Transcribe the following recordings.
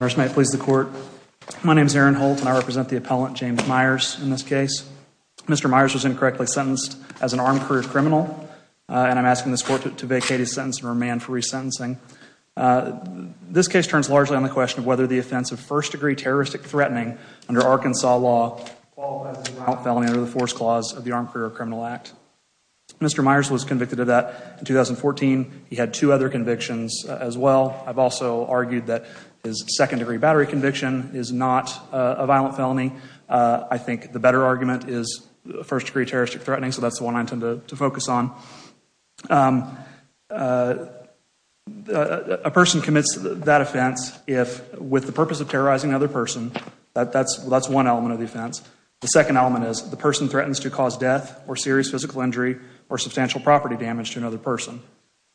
First, may it please the court. My name is Aaron Holt and I represent the appellant James Myers in this case. Mr. Myers was incorrectly sentenced as an armed career criminal and I'm asking this court to vacate his sentence and remand for resentencing. This case turns largely on the question of whether the offense of first degree terroristic threatening under Arkansas law qualifies as a violent felony under the Force Clause of the Armed Career Criminal Act. Mr. Myers was convicted of that in 2014. He had two other convictions as well. I've also argued that his second degree battery conviction is not a violent felony. I think the better argument is first degree terroristic threatening, so that's the one I intend to focus on. A person commits that offense if, with the purpose of terrorizing another person, that's one element of the offense. The second element is the person threatens to cause death or serious physical injury or substantial property damage to another person.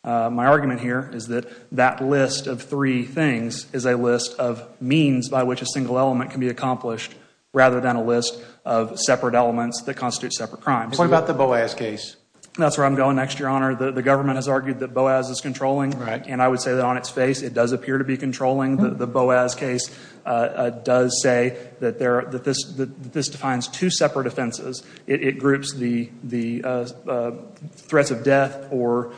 My argument here is that that list of three things is a list of means by which a single element can be accomplished rather than a list of separate elements that constitute separate crimes. What about the Boas case? That's where I'm going next, Your Honor. The government has argued that Boas is controlling. Right. And I would say that on its face it does appear to be controlling. The Boas case does say that this defines two separate offenses. It groups the threats of death or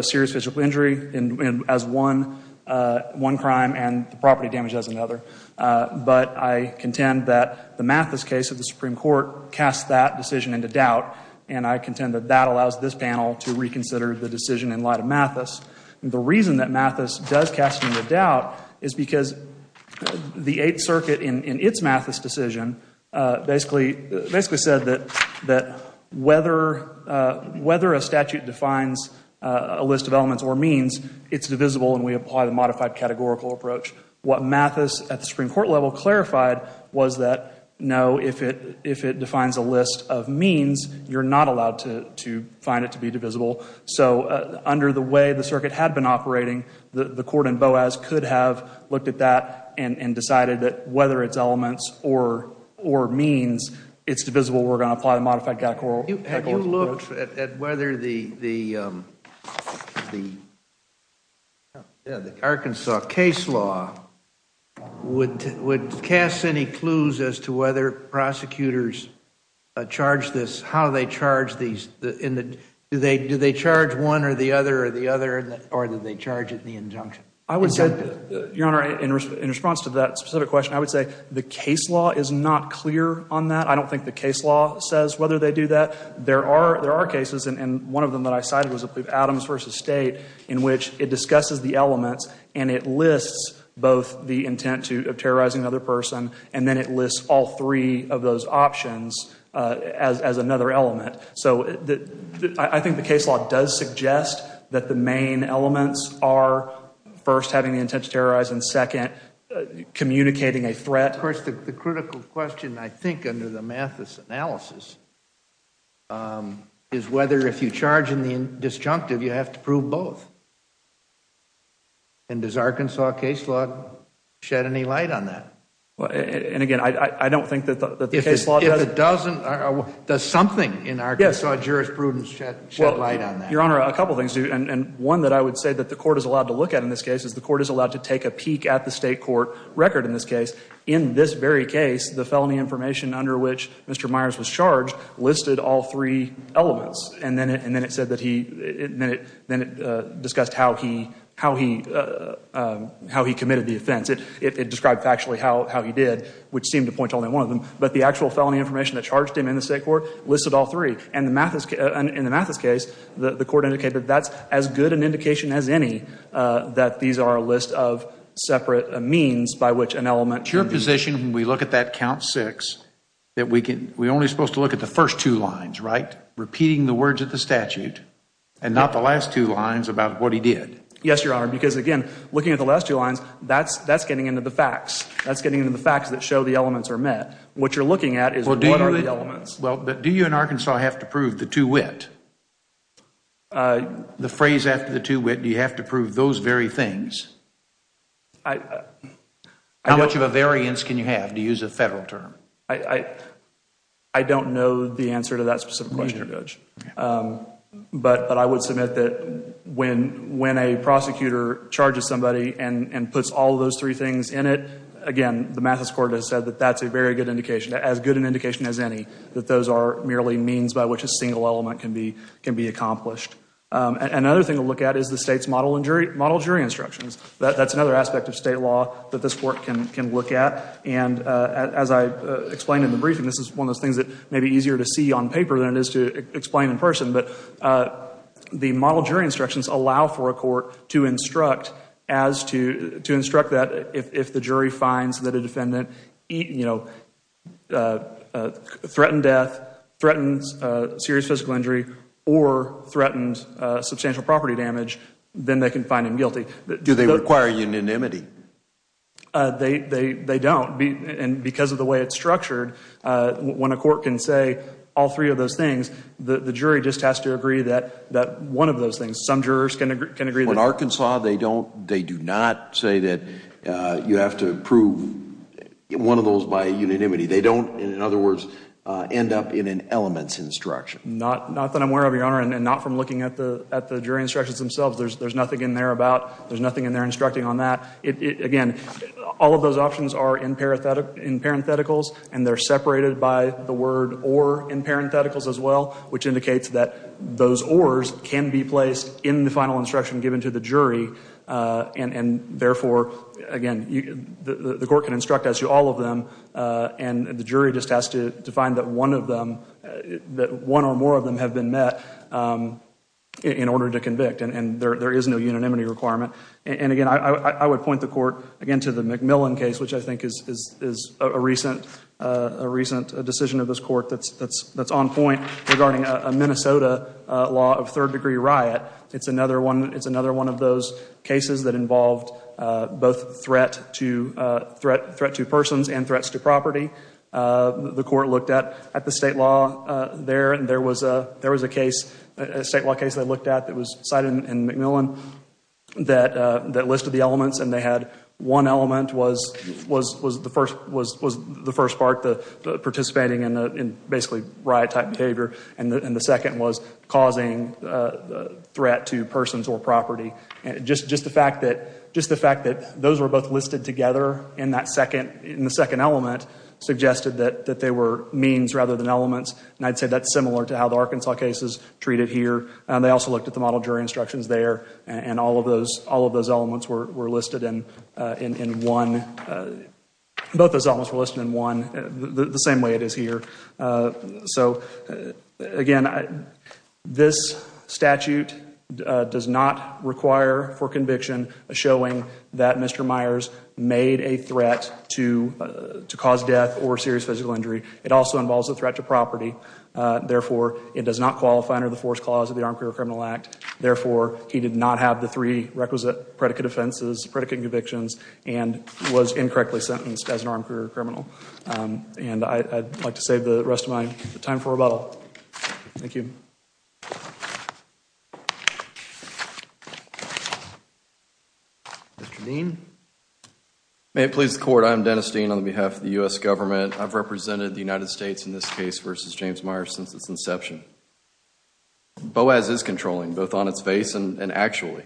serious physical injury as one crime and the property damage as another. But I contend that the Mathis case of the Supreme Court casts that decision into doubt, and I contend that that allows this panel to reconsider the decision in light of Mathis. The reason that Mathis does cast it into doubt is because the Eighth Circuit in its Mathis decision basically said that whether a statute defines a list of elements or means, it's divisible and we apply the modified categorical approach. What Mathis at the Supreme Court level clarified was that, no, if it defines a list of means, you're not allowed to find it to be divisible. So under the way the circuit had been operating, the court in Boas could have looked at that and decided that whether it's elements or means, it's divisible. We're going to apply the modified categorical approach. Your Honor, in response to that specific question, I would say the case law is not clear on that. I don't think the case law says whether they do that. There are cases, and one of them that I cited was Adams v. State, in which it discusses the elements and it lists both the intent of terrorizing another person, and then it lists all three of those options as another element. So I think the case law does suggest that the main elements are, first, having the intent to terrorize, and second, communicating a threat. Of course, the critical question, I think, under the Mathis analysis, is whether if you charge in the disjunctive, you have to prove both. And does Arkansas case law shed any light on that? And again, I don't think that the case law does. If it doesn't, does something in Arkansas jurisprudence shed light on that? Your Honor, a couple of things do. And one that I would say that the court is allowed to look at in this case is the court is allowed to take a peek at the state court record in this case. In this very case, the felony information under which Mr. Myers was charged listed all three elements. And then it said that he – then it discussed how he committed the offense. It described factually how he did, which seemed to point to only one of them. But the actual felony information that charged him in the state court listed all three. And in the Mathis case, the court indicated that's as good an indication as any that these are a list of separate means by which an element can be used. It's your position when we look at that count six that we only are supposed to look at the first two lines, right? Repeating the words of the statute and not the last two lines about what he did. Yes, Your Honor, because, again, looking at the last two lines, that's getting into the facts. That's getting into the facts that show the elements are met. What you're looking at is what are the elements. Well, but do you in Arkansas have to prove the two wit? The phrase after the two wit, do you have to prove those very things? How much of a variance can you have, to use a federal term? I don't know the answer to that specific question, Judge. But I would submit that when a prosecutor charges somebody and puts all those three things in it, again, the Mathis court has said that that's a very good indication, as good an indication as any, that those are merely means by which a single element can be accomplished. Another thing to look at is the state's model jury instructions. That's another aspect of state law that this court can look at. And as I explained in the briefing, this is one of those things that may be easier to see on paper than it is to explain in person. But the model jury instructions allow for a court to instruct that if the jury finds that a defendant threatened death, threatened serious physical injury, or threatened substantial property damage, then they can find him guilty. Do they require unanimity? They don't. And because of the way it's structured, when a court can say all three of those things, the jury just has to agree that one of those things, some jurors can agree. In Arkansas, they do not say that you have to prove one of those by unanimity. They don't, in other words, end up in an elements instruction. Not that I'm aware of, Your Honor, and not from looking at the jury instructions themselves. There's nothing in there about, there's nothing in there instructing on that. Again, all of those options are in parentheticals, and they're separated by the word or in parentheticals as well, which indicates that those ors can be placed in the final instruction given to the jury. And therefore, again, the court can instruct as to all of them, and the jury just has to find that one or more of them have been met in order to convict. And there is no unanimity requirement. And again, I would point the court, again, to the McMillan case, which I think is a recent decision of this court that's on point regarding a Minnesota law of third degree riot. It's another one of those cases that involved both threat to persons and threats to property. The court looked at the state law there, and there was a case, a state law case they looked at that was cited in McMillan that listed the elements, and they had one element was the first part, the participating in basically riot-type behavior, and the second was causing threat to persons or property. Just the fact that those were both listed together in the second element suggested that they were means rather than elements, and I'd say that's similar to how the Arkansas case is treated here. They also looked at the model jury instructions there, and all of those elements were listed in one, both those elements were listed in one, the same way it is here. So, again, this statute does not require for conviction a showing that Mr. Myers made a threat to cause death or serious physical injury. It also involves a threat to property. Therefore, it does not qualify under the fourth clause of the Armed Career Criminal Act. Therefore, he did not have the three requisite predicate offenses, predicate convictions, and was incorrectly sentenced as an armed career criminal. And I'd like to save the rest of my time for rebuttal. Thank you. Mr. Dean. May it please the Court, I am Dennis Dean on behalf of the U.S. government. I've represented the United States in this case versus James Myers since its inception. BOAS is controlling, both on its face and actually.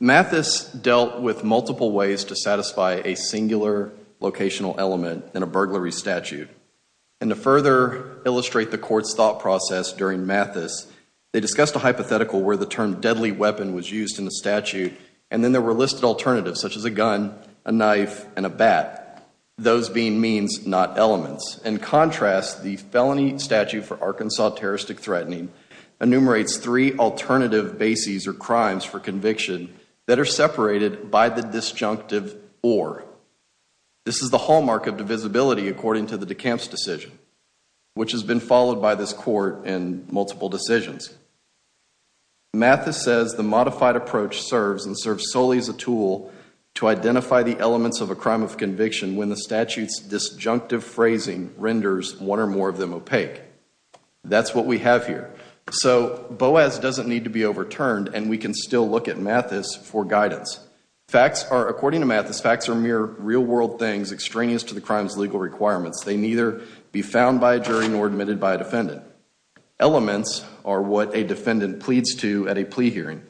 Mathis dealt with multiple ways to satisfy a singular locational element in a burglary statute. And to further illustrate the Court's thought process during Mathis, they discussed a hypothetical where the term deadly weapon was used in the statute, and then there were listed alternatives, such as a gun, a knife, and a bat, those being means, not elements. In contrast, the felony statute for Arkansas terroristic threatening enumerates three alternative bases or crimes for conviction that are separated by the disjunctive or. This is the hallmark of divisibility according to the DeKalb's decision, which has been followed by this Court in multiple decisions. Mathis says the modified approach serves and serves solely as a tool to identify the elements of a crime of conviction when the statute's disjunctive phrasing renders one or more of them opaque. That's what we have here. So BOAS doesn't need to be overturned, and we can still look at Mathis for guidance. According to Mathis, facts are mere real-world things extraneous to the crime's legal requirements. They neither be found by a jury nor admitted by a defendant. Elements are what a defendant pleads to at a plea hearing.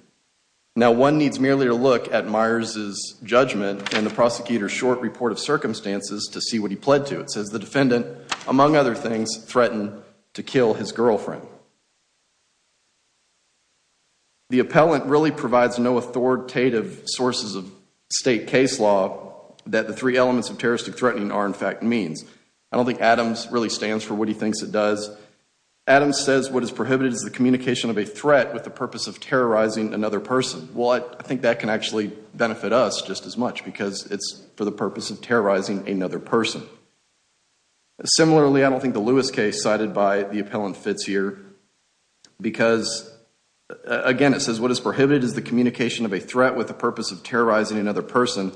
Now, one needs merely to look at Myers' judgment and the prosecutor's short report of circumstances to see what he pled to. It says the defendant, among other things, threatened to kill his girlfriend. The appellant really provides no authoritative sources of state case law that the three elements of terroristic threatening are, in fact, means. I don't think Adams really stands for what he thinks it does. Adams says what is prohibited is the communication of a threat with the purpose of terrorizing another person. Well, I think that can actually benefit us just as much because it's for the purpose of terrorizing another person. Similarly, I don't think the Lewis case cited by the appellant fits here because, again, it says what is prohibited is the communication of a threat with the purpose of terrorizing another person.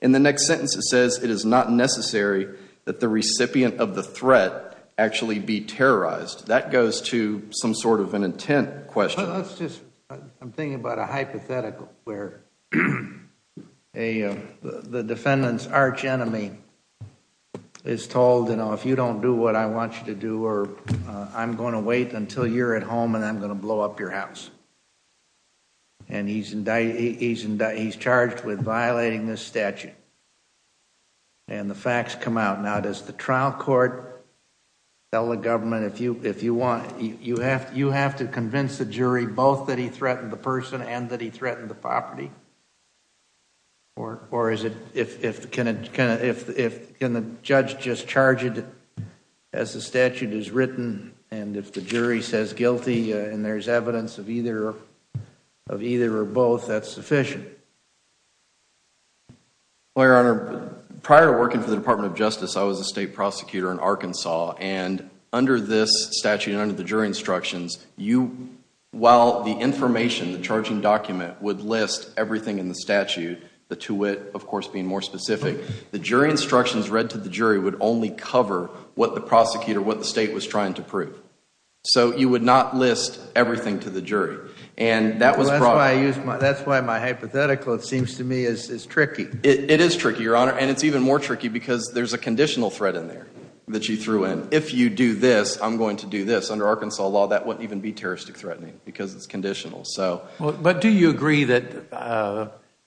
In the next sentence it says it is not necessary that the recipient of the threat actually be terrorized. That goes to some sort of an intent question. I'm thinking about a hypothetical where the defendant's arch enemy is told, you know, if you don't do what I want you to do, I'm going to wait until you're at home and I'm going to blow up your house. And he's charged with violating this statute. And the facts come out. Now, does the trial court tell the government, if you want, you have to convince the jury both that he threatened the person and that he threatened the property? Or can the judge just charge it as the statute is written and if the jury says guilty and there's evidence of either or both, that's sufficient? Well, Your Honor, prior to working for the Department of Justice, I was a state prosecutor in Arkansas. And under this statute and under the jury instructions, while the information, the charging document, would list everything in the statute, the to wit, of course, being more specific, the jury instructions read to the jury would only cover what the prosecutor, what the state was trying to prove. So you would not list everything to the jury. And that was brought up. That's why my hypothetical, it seems to me, is tricky. It is tricky, Your Honor, and it's even more tricky because there's a conditional threat in there that you threw in. If you do this, I'm going to do this. Under Arkansas law, that wouldn't even be terroristic threatening because it's conditional. But do you agree that,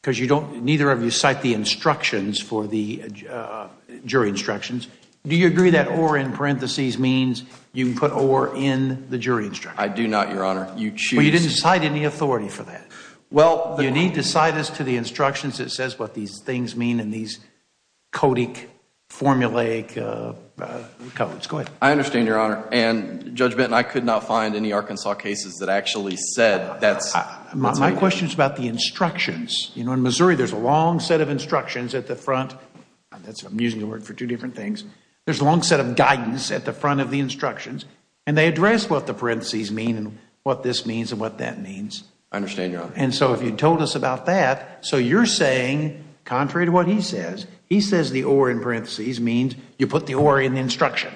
because you don't, neither of you cite the instructions for the jury instructions, do you agree that or in parentheses means you can put or in the jury instructions? I do not, Your Honor. Well, you didn't cite any authority for that. You need to cite us to the instructions that says what these things mean in these codic, formulaic codes. Go ahead. I understand, Your Honor. And, Judge Benton, I could not find any Arkansas cases that actually said that. My question is about the instructions. In Missouri, there's a long set of instructions at the front. I'm using the word for two different things. There's a long set of guidance at the front of the instructions, and they address what the parentheses mean and what this means and what that means. I understand, Your Honor. And so if you told us about that, so you're saying, contrary to what he says, he says the or in parentheses means you put the or in the instruction.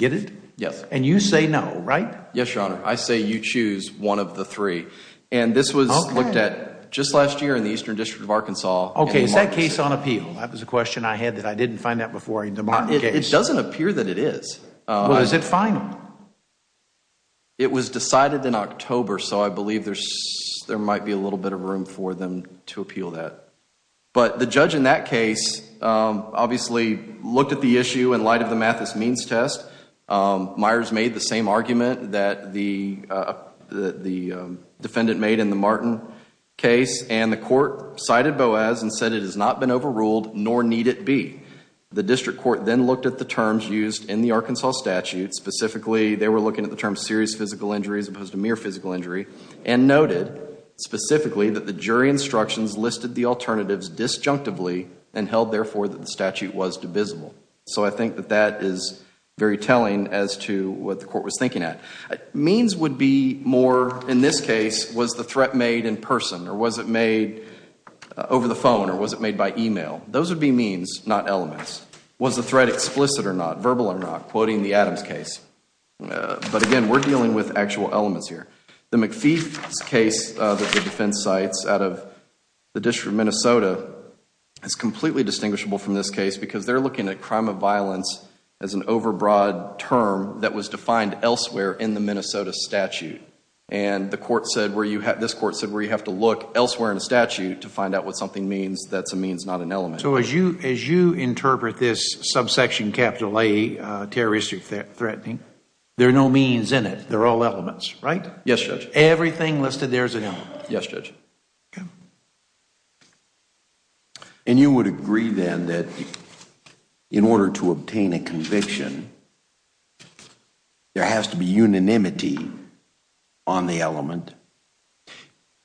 Get it? Yes. And you say no, right? Yes, Your Honor. I say you choose one of the three. And this was looked at just last year in the Eastern District of Arkansas. Okay. Is that case on appeal? That was a question I had that I didn't find that before in the Martin case. It doesn't appear that it is. Well, is it final? It was decided in October, so I believe there might be a little bit of room for them to appeal that. But the judge in that case obviously looked at the issue in light of the Mathis means test. Myers made the same argument that the defendant made in the Martin case, and the court cited Boas and said it has not been overruled, nor need it be. The district court then looked at the terms used in the Arkansas statute, specifically they were looking at the terms serious physical injury as opposed to mere physical injury, and noted specifically that the jury instructions listed the alternatives disjunctively and held, therefore, that the statute was divisible. So I think that that is very telling as to what the court was thinking at. Means would be more, in this case, was the threat made in person? Or was it made over the phone? Or was it made by email? Those would be means, not elements. Was the threat explicit or not? Verbal or not? Quoting the Adams case. But again, we're dealing with actual elements here. The McPhee case that the defense cites out of the District of Minnesota is completely distinguishable from this case because they're looking at crime of violence as an overbroad term that was defined elsewhere in the Minnesota statute. And this court said where you have to look elsewhere in a statute to find out what something means, that's a means, not an element. So as you interpret this subsection capital A, terroristic threatening, there are no means in it, they're all elements, right? Yes, Judge. Everything listed there is an element? Yes, Judge. Okay. And you would agree then that in order to obtain a conviction, there has to be unanimity on the element?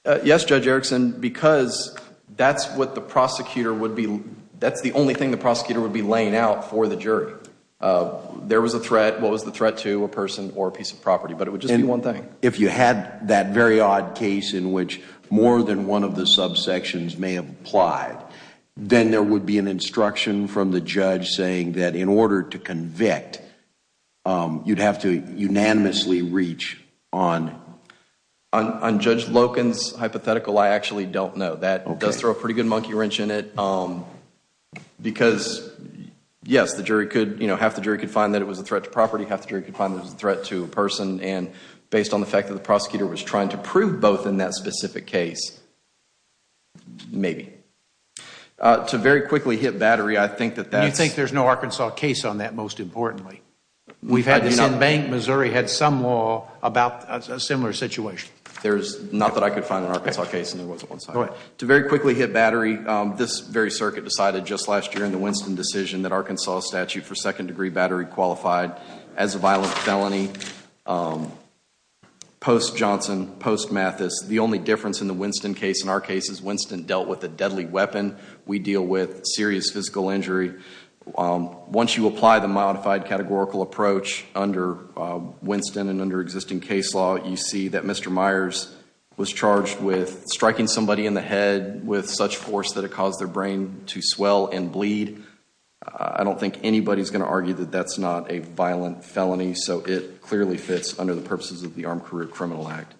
Yes, Judge Erickson, because that's what the prosecutor would be, that's the only thing the prosecutor would be laying out for the jury. There was a threat. What was the threat to? A person or a piece of property. But it would just be one thing. If you had that very odd case in which more than one of the subsections may have applied, then there would be an instruction from the judge saying that in order to convict, you'd have to unanimously reach on. On Judge Loken's hypothetical, I actually don't know. That does throw a pretty good monkey wrench in it because, yes, half the jury could find that it was a threat to property, and based on the fact that the prosecutor was trying to prove both in that specific case, maybe. To very quickly hit battery, I think that that's... You think there's no Arkansas case on that, most importantly? We've had this in Bank. Missouri had some law about a similar situation. Not that I could find an Arkansas case, and there wasn't one. Go ahead. To very quickly hit battery, this very circuit decided just last year in the Winston decision that Arkansas statute for second degree battery qualified as a violent felony. Post Johnson, post Mathis, the only difference in the Winston case, in our case, is Winston dealt with a deadly weapon. We deal with serious physical injury. Once you apply the modified categorical approach under Winston and under existing case law, you see that Mr. Myers was charged with striking somebody in the head with such force that it caused their brain to swell and bleed. I don't think anybody's going to argue that that's not a violent felony, so it clearly fits under the purposes of the Armed Career Criminal Act.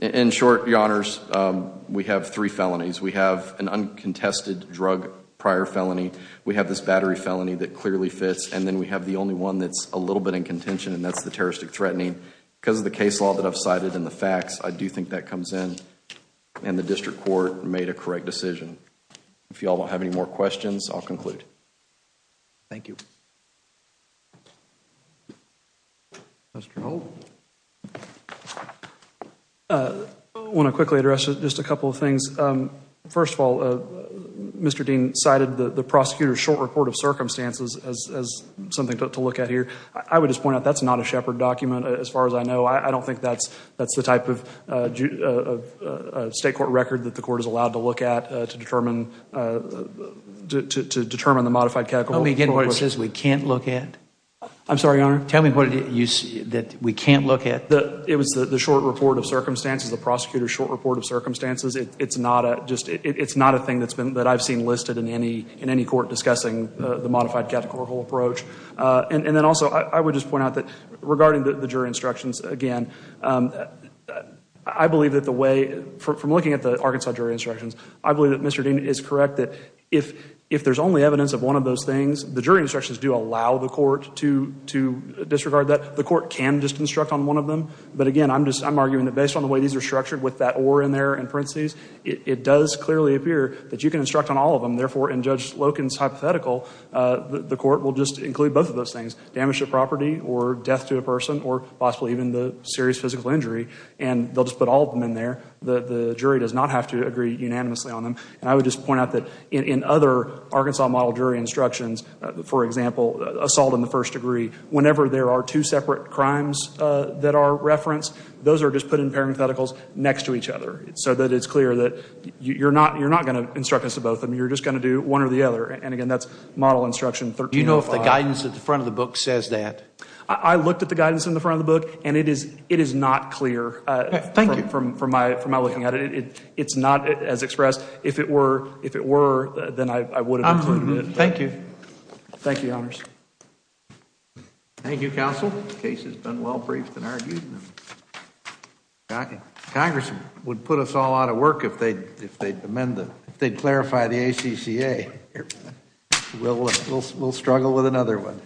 In short, Your Honors, we have three felonies. We have an uncontested drug prior felony. We have this battery felony that clearly fits. And then we have the only one that's a little bit in contention, and that's the terroristic threatening. Because of the case law that I've cited and the facts, I do think that comes in. And the district court made a correct decision. If you all don't have any more questions, I'll conclude. Thank you. I want to quickly address just a couple of things. First of all, Mr. Dean cited the prosecutor's short report of circumstances as something to look at here. I would just point out that's not a Shepard document, as far as I know. I don't think that's the type of state court record that the court is allowed to look at to determine the modified categorical approach. Tell me again what it says we can't look at? I'm sorry, Your Honor. Tell me what it is that we can't look at. It was the short report of circumstances, the prosecutor's short report of circumstances. It's not a thing that I've seen listed in any court discussing the modified categorical approach. And then also, I would just point out that regarding the jury instructions, again, I believe that the way, from looking at the Arkansas jury instructions, I believe that Mr. Dean is correct that if there's only evidence of one of those things, the jury instructions do allow the court to disregard that. The court can just instruct on one of them. But again, I'm arguing that based on the way these are structured with that or in there in parentheses, it does clearly appear that you can instruct on all of them. Therefore, in Judge Loken's hypothetical, the court will just include both of those things, damage to property or death to a person or possibly even the serious physical injury, and they'll just put all of them in there. The jury does not have to agree unanimously on them. And I would just point out that in other Arkansas model jury instructions, for example, assault in the first degree, whenever there are two separate crimes that are referenced, those are just put in parentheticals next to each other so that it's clear that you're not going to instruct us to both of them. You're just going to do one or the other. And again, that's model instruction 13.5. The guidance at the front of the book says that. I looked at the guidance in the front of the book, and it is not clear. Thank you. From my looking at it, it's not as expressed. If it were, then I would have included it. Thank you. Thank you, Your Honors. Thank you, Counsel. The case has been well briefed and argued. Congress would put us all out of work if they'd amend the, if they'd clarify the ACCA. We'll struggle with another one.